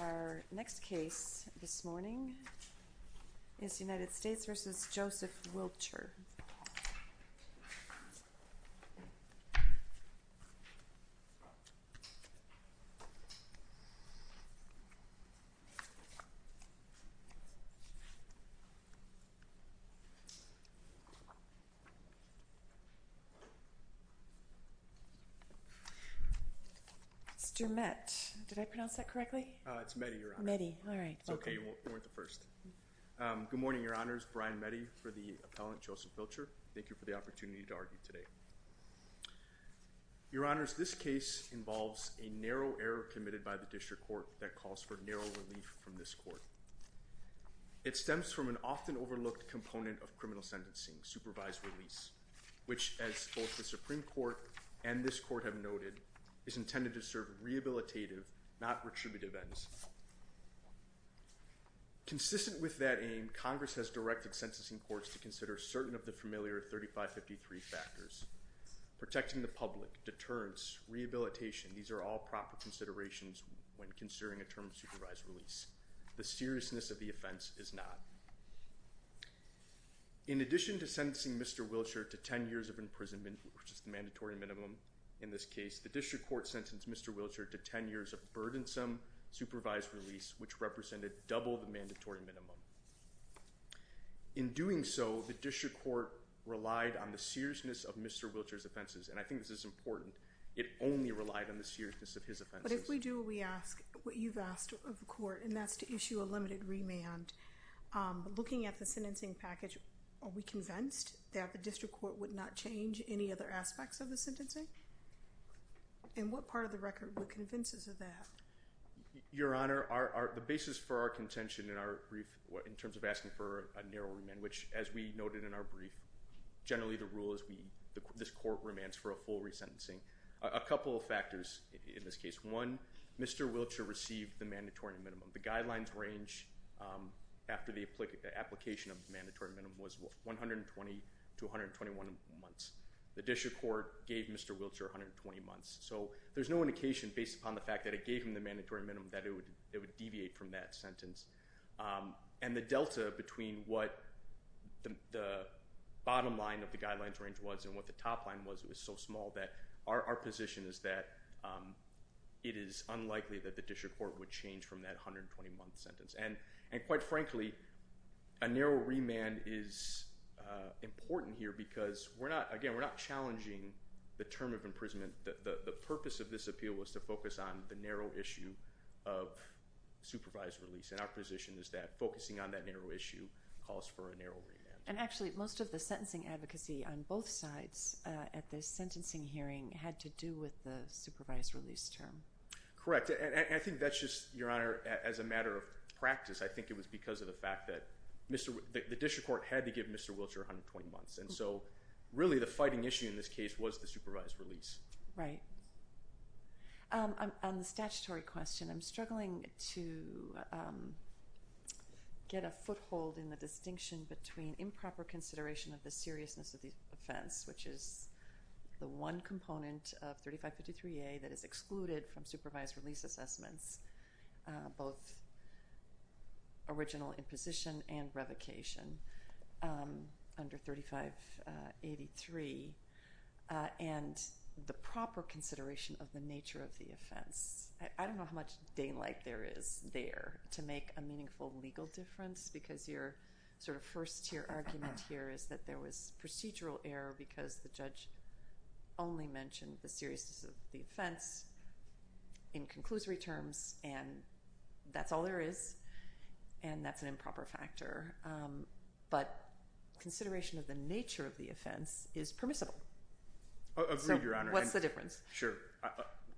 Our next case this morning is United States v. Joseph Wilcher. Mr. Mett, did I pronounce that correctly? It's Metti, Your Honor. Metti, all right. It's okay. You weren't the first. Good morning, Your Honors. Brian Metti for the appellant, Joseph Wilcher. Thank you for the opportunity to argue today. Your Honors, this case involves a narrow error committed by the district court that calls for narrow relief from this court. It stems from an often overlooked component of criminal sentencing, supervised release, which, as both the Supreme Court and this court have noted, is intended to serve rehabilitative, not retributive, ends. Consistent with that aim, Congress has directed sentencing courts to consider certain of the familiar 3553 factors. Protecting the public, deterrence, rehabilitation, these are all proper considerations when considering a term of supervised release. The seriousness of the offense is not. In addition to sentencing Mr. Wilcher to 10 years of imprisonment, which is the mandatory minimum in this case, the district court sentenced Mr. Wilcher to 10 years of burdensome supervised release, which represented double the mandatory minimum. In doing so, the district court relied on the seriousness of Mr. Wilcher's offenses, and I think this is important. It only relied on the seriousness of his offenses. But if we do what we ask, what you've asked of the court, and that's to issue a limited remand, looking at the sentencing package, are we convinced that the district court would not change any other aspects of the sentencing? And what part of the record would convince us of that? Your Honor, the basis for our contention in our brief, in terms of asking for a narrow remand, which as we noted in our brief, generally the rule is this court remands for a full resentencing. A couple of factors in this case. One, Mr. Wilcher received the mandatory minimum. The guidelines range after the application of the mandatory minimum was 120 to 121 months. The district court gave Mr. Wilcher 120 months. So there's no indication based upon the fact that it gave him the mandatory minimum that it would deviate from that sentence. And the delta between what the bottom line of the guidelines range was and what the top line was, it was so small that our position is that it is unlikely that the district court would change from that 120-month sentence. And quite frankly, a narrow remand is important here because, again, we're not challenging the term of imprisonment. The purpose of this appeal was to focus on the narrow issue of supervised release. And our position is that focusing on that narrow issue calls for a narrow remand. And actually, most of the sentencing advocacy on both sides at the sentencing hearing had to do with the supervised release term. Correct. And I think that's just, Your Honor, as a matter of practice, I think it was because of the fact that the district court had to give Mr. Wilcher 120 months. And so really the fighting issue in this case was the supervised release. Right. On the statutory question, I'm struggling to get a foothold in the distinction between improper consideration of the seriousness of the offense, which is the one component of 3553A that is excluded from supervised release assessments, both original imposition and revocation under 3583, and the proper consideration of the nature of the offense. I don't know how much daylight there is there to make a meaningful legal difference because your sort of first-tier argument here is that there was procedural error because the judge only mentioned the seriousness of the offense in conclusory terms and that's all there is and that's an improper factor. But consideration of the nature of the offense is permissible. Agreed, Your Honor. So what's the difference? Sure.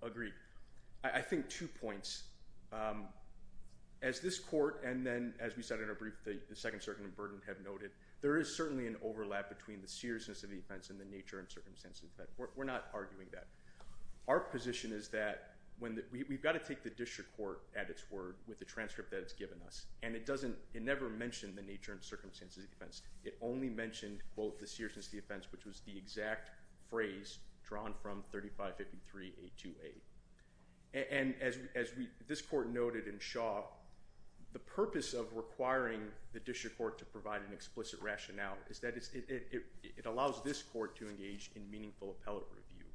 Agreed. I think two points. As this court and then as we said in our brief, the Second Circuit and Burden have noted, there is certainly an overlap between the seriousness of the offense and the nature and circumstances of the offense. We're not arguing that. Our position is that we've got to take the district court at its word with the transcript that it's given us, and it never mentioned the nature and circumstances of the offense. It only mentioned, quote, the seriousness of the offense, which was the exact phrase drawn from 3553A28. And as this court noted in Shaw, the purpose of requiring the district court to provide an explicit rationale is that it allows this court to engage in meaningful appellate review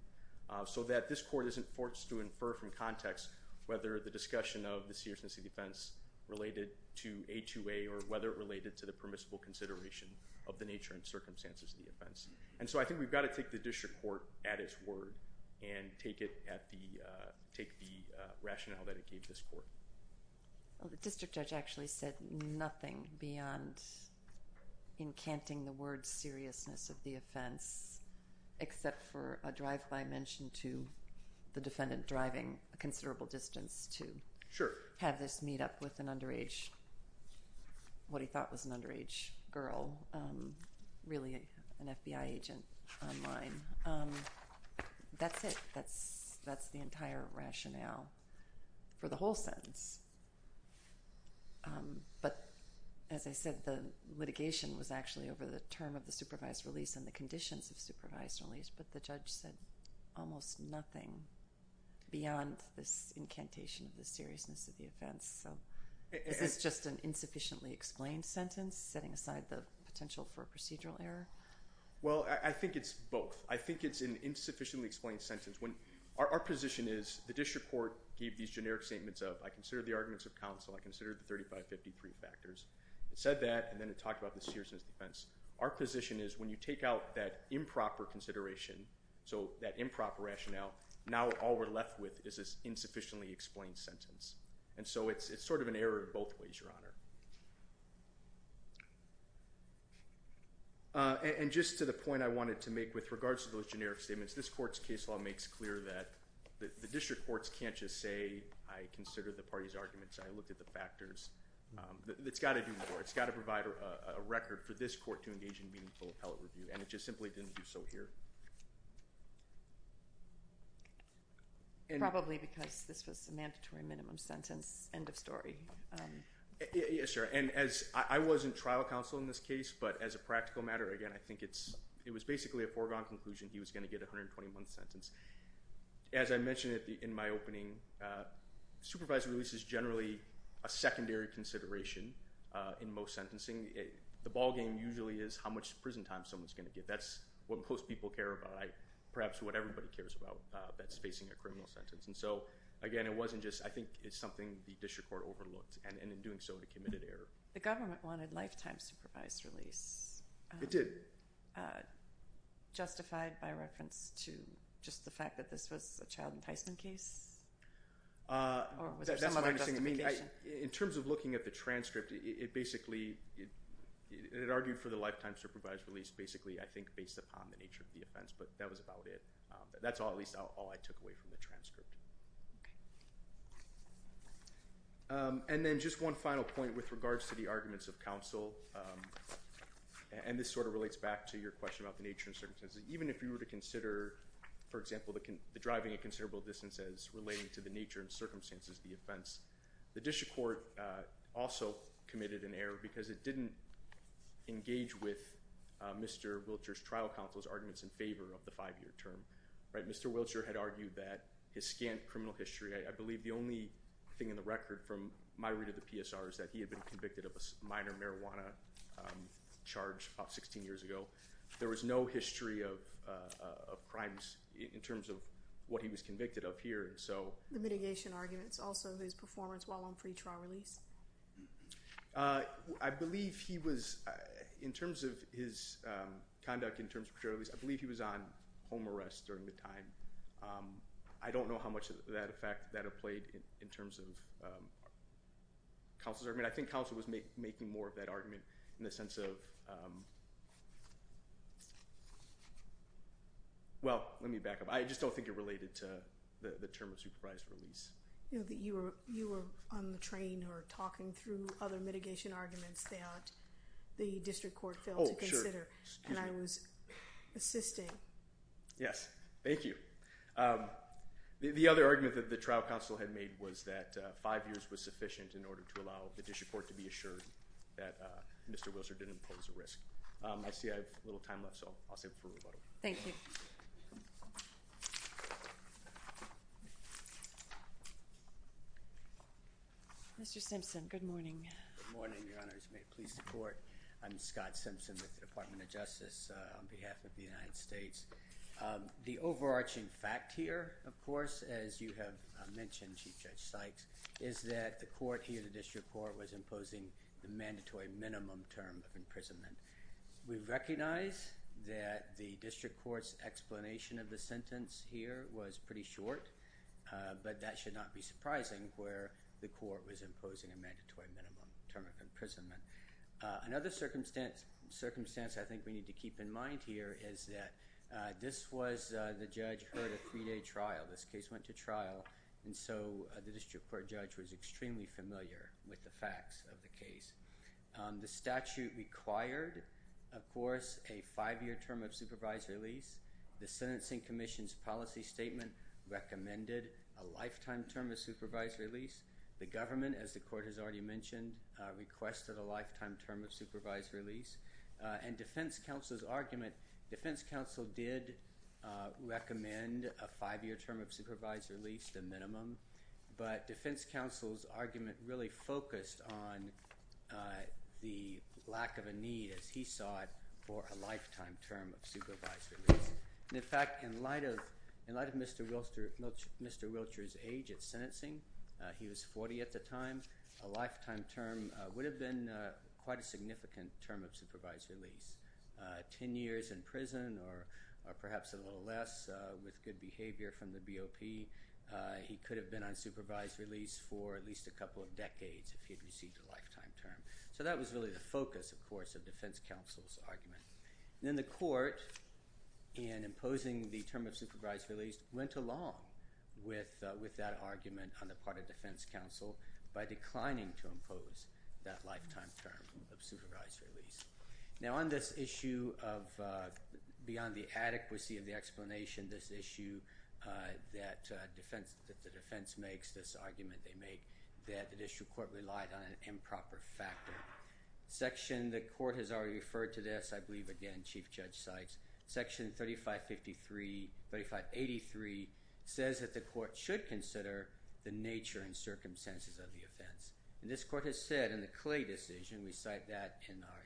so that this court isn't forced to infer from context whether the discussion of the seriousness of the offense related to A2A or whether it related to the permissible consideration of the nature and circumstances of the offense. And so I think we've got to take the district court at its word and take the rationale that it gave this court. Well, the district judge actually said nothing beyond encanting the word seriousness of the offense except for a drive-by mention to the defendant driving a considerable distance to have this meet up with an underage, what he thought was an underage girl, really an FBI agent online. That's it. That's the entire rationale for the whole sentence. But as I said, the litigation was actually over the term of the supervised release and the conditions of supervised release, but the judge said almost nothing beyond this incantation of the seriousness of the offense. So is this just an insufficiently explained sentence, setting aside the potential for a procedural error? Well, I think it's both. I think it's an insufficiently explained sentence. Our position is the district court gave these generic statements of I consider the arguments of counsel, I consider the 3553 factors. It said that and then it talked about the seriousness of the offense. Our position is when you take out that improper consideration, so that improper rationale, now all we're left with is this insufficiently explained sentence. And so it's sort of an error in both ways, Your Honor. And just to the point I wanted to make with regards to those generic statements, this court's case law makes clear that the district courts can't just say I consider the party's arguments, I looked at the factors. It's got to do more. It's got to provide a record for this court to engage in meaningful appellate review, and it just simply didn't do so here. Probably because this was a mandatory minimum sentence, end of story. Yes, Your Honor. And I wasn't trial counsel in this case, but as a practical matter, again, I think it was basically a foregone conclusion he was going to get a 121th sentence. As I mentioned in my opening, supervised release is generally a secondary consideration in most sentencing. The ballgame usually is how much prison time someone's going to get. That's what most people care about. Perhaps what everybody cares about that's facing a criminal sentence. And so, again, it wasn't just, I think it's something the district court overlooked, and in doing so, it committed error. The government wanted lifetime supervised release. It did. Justified by reference to just the fact that this was a child enticement case? Or was there some other justification? That's not what I'm saying. I mean, in terms of looking at the transcript, it basically, it argued for the lifetime supervised release basically, I think, based upon the nature of the offense, but that was about it. That's at least all I took away from the transcript. And then just one final point with regards to the arguments of counsel, and this sort of relates back to your question about the nature and circumstances. Even if you were to consider, for example, the driving at considerable distances relating to the nature and circumstances of the offense, the district court also committed an error because it didn't engage with Mr. Wilcher's trial counsel's arguments in favor of the five-year term. Mr. Wilcher had argued that his scant criminal history, I believe the only thing in the record from my read of the PSR is that he had been convicted of a minor marijuana charge about 16 years ago. There was no history of crimes in terms of what he was convicted of here. The mitigation arguments, also his performance while on pretrial release? I believe he was, in terms of his conduct in terms of pretrial release, I believe he was on home arrest during the time. I don't know how much of that effect that had played in terms of counsel's argument. I think counsel was making more of that argument in the sense of, well, let me back up. I just don't think it related to the term of supervised release. You were on the train or talking through other mitigation arguments that the district court failed to consider, and I was assisting. Yes, thank you. The other argument that the trial counsel had made was that five years was sufficient in order to allow the district court to be assured that Mr. Wilcher didn't pose a risk. I see I have a little time left, so I'll save it for rebuttal. Thank you. Mr. Simpson, good morning. Good morning, Your Honors. May it please the Court. I'm Scott Simpson with the Department of Justice on behalf of the United States. The overarching fact here, of course, as you have mentioned, Chief Judge Sykes, is that the court here, the district court, was imposing the mandatory minimum term of imprisonment. We recognize that the district court's explanation of the sentence here was pretty short, but that should not be surprising where the court was imposing a mandatory minimum term of imprisonment. Another circumstance I think we need to keep in mind here is that this was, the judge heard a three-day trial. This case went to trial, and so the district court judge was extremely familiar with the facts of the case. The statute required, of course, a five-year term of supervised release. The sentencing commission's policy statement recommended a lifetime term of supervised release. The government, as the court has already mentioned, requested a lifetime term of supervised release. And defense counsel's argument, defense counsel did recommend a five-year term of supervised release, the minimum, but defense counsel's argument really focused on the lack of a need, as he saw it, for a lifetime term of supervised release. In fact, in light of Mr. Wiltshire's age at sentencing, he was 40 at the time, a lifetime term would have been quite a significant term of supervised release. Ten years in prison, or perhaps a little less, with good behavior from the BOP, he could have been on supervised release for at least a couple of decades if he had received a lifetime term. So that was really the focus, of course, of defense counsel's argument. Then the court, in imposing the term of supervised release, went along with that argument on the part of defense counsel by declining to impose that lifetime term of supervised release. Now, on this issue of beyond the adequacy of the explanation, this issue that defense makes, this argument they make, that the district court relied on an improper factor. Section, the court has already referred to this, I believe, again, Chief Judge Sykes, Section 3583 says that the court should consider the nature and circumstances of the offense. And this court has said in the Clay decision, we cite that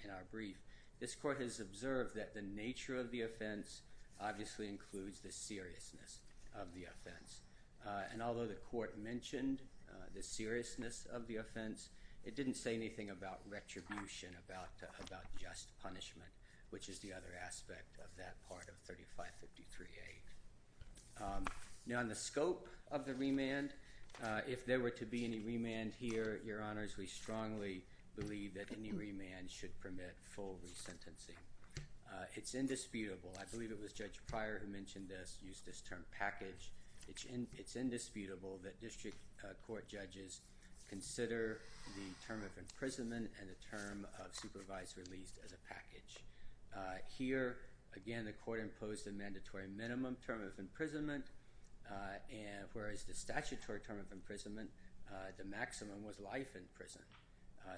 in our brief, this court has observed that the nature of the offense obviously includes the seriousness of the offense. And although the court mentioned the seriousness of the offense, it didn't say anything about retribution, about just punishment, which is the other aspect of that part of 3553A. Now, on the scope of the remand, if there were to be any remand here, Your Honors, we strongly believe that any remand should permit full resentencing. It's indisputable. I believe it was Judge Pryor who mentioned this, used this term package. It's indisputable that district court judges consider the term of imprisonment and the term of supervised release as a package. Here, again, the court imposed a mandatory minimum term of imprisonment, whereas the statutory term of imprisonment, the maximum was life in prison.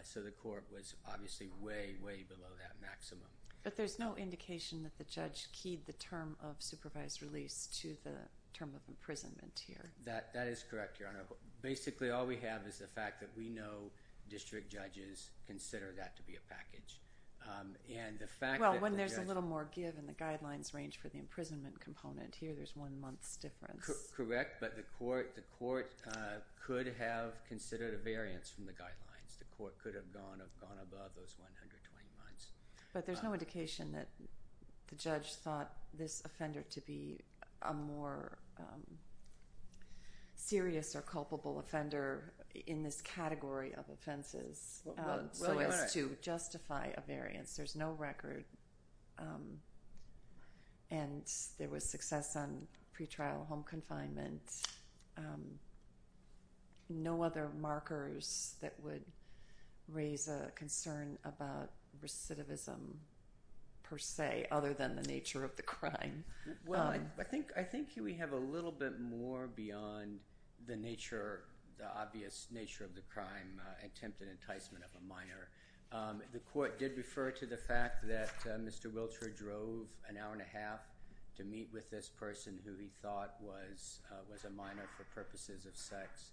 So the court was obviously way, way below that maximum. But there's no indication that the judge keyed the term of supervised release to the term of imprisonment here. That is correct, Your Honor. Basically, all we have is the fact that we know district judges consider that to be a And the fact that the judge... Well, when there's a little more give in the guidelines range for the imprisonment component, here there's one month's difference. Correct, but the court could have considered a variance from the guidelines. The court could have gone above those 120 months. But there's no indication that the judge thought this offender to be a more serious or culpable offender in this category of offenses... Well, Your Honor...... so as to justify a variance. There's no record. And there was success on pretrial home confinement. No other markers that would raise a concern about recidivism, per se, other than the nature of the crime. Well, I think here we have a little bit more beyond the nature, the obvious nature of the crime, attempted enticement of a minor. The court did refer to the fact that Mr. Wiltshire drove an hour and a half to meet with this person who he thought was a minor for purposes of sex.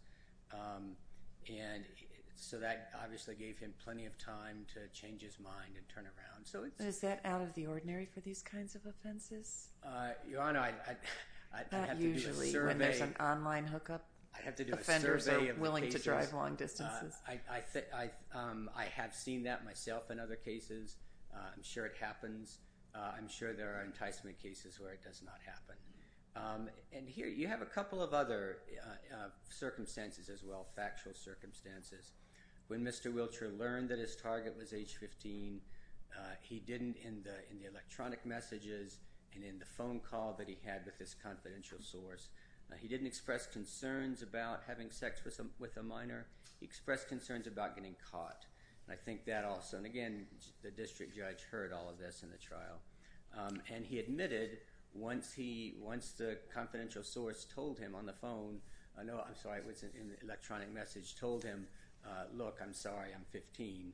And so that obviously gave him plenty of time to change his mind and turn around. So it's... Is that out of the ordinary for these kinds of offenses? Your Honor, I'd have to do a survey. Not usually when there's an online hookup. I'd have to do a survey of the cases. Offenders are willing to drive long distances. I have seen that myself in other cases. I'm sure it happens. I'm sure there are enticement cases where it does not happen. And here you have a couple of other circumstances as well, factual circumstances. When Mr. Wiltshire learned that his target was age 15, he didn't, in the electronic messages and in the phone call that he had with his confidential source, he didn't express concerns about having sex with a minor. He expressed concerns about getting caught. And I think that also... And again, the district judge heard all of this in the trial. And he admitted once the confidential source told him on the phone... No, I'm sorry, it was in the electronic message, told him, look, I'm sorry, I'm 15.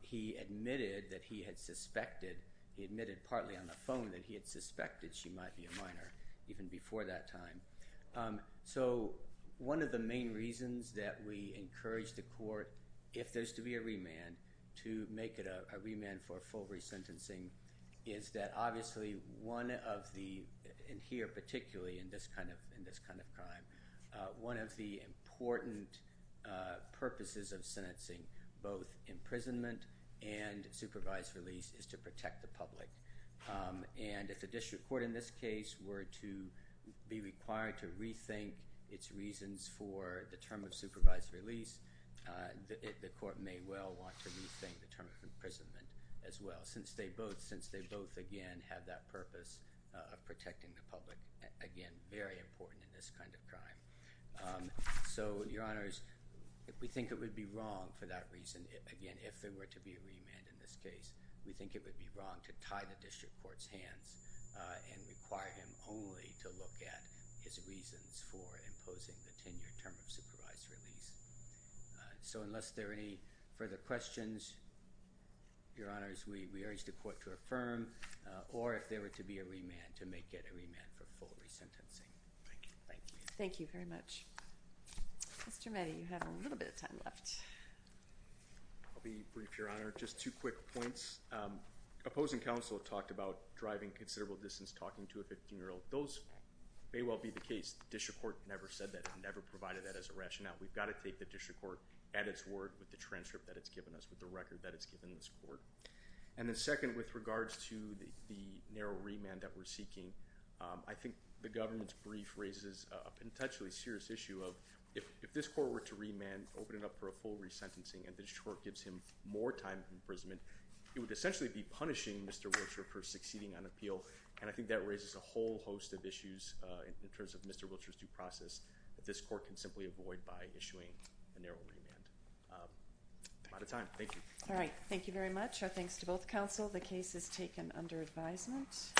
He admitted that he had suspected, he admitted partly on the phone, that he had suspected she might be a minor even before that time. So, one of the main reasons that we encourage the court, if there's to be a remand, to make it a remand for full resentencing is that obviously one of the... and here particularly in this kind of crime, one of the important purposes of sentencing, both imprisonment and supervised release, is to protect the public. And if the district court in this case were to be required to rethink its reasons for the term of supervised release, the court may well want to rethink the term of imprisonment as well, since they both, again, have that purpose of protecting the public. Again, very important in this kind of crime. So, Your Honors, we think it would be wrong for that reason, again, if there were to be a remand in this case. We think it would be wrong to tie the district court's hands and require him only to look at his reasons for imposing the 10-year term of supervised release. So, unless there are any further questions, Your Honors, we urge the court to affirm, or if there were to be a remand, to make it a remand for full resentencing. Thank you. Thank you very much. Mr. Meddy, you have a little bit of time left. I'll be brief, Your Honor. Just two quick points. Opposing counsel talked about driving considerable distance talking to a 15-year-old. Those may well be the case. The district court never said that. It never provided that as a rationale. We've got to take the district court at its word with the transcript that it's given us, with the record that it's given this court. And then second, with regards to the narrow remand that we're seeking, I think the government's brief raises a potentially serious issue of, if this court were to remand, open it up for a full resentencing, and the district court gives him more time for imprisonment, it would essentially be punishing Mr. Wiltshire for succeeding on appeal. And I think that raises a whole host of issues in terms of Mr. Wiltshire's due process that this court can simply avoid by issuing a narrow remand. I'm out of time. Thank you. All right. Thank you very much. Our thanks to both counsel. The case is taken under advisement.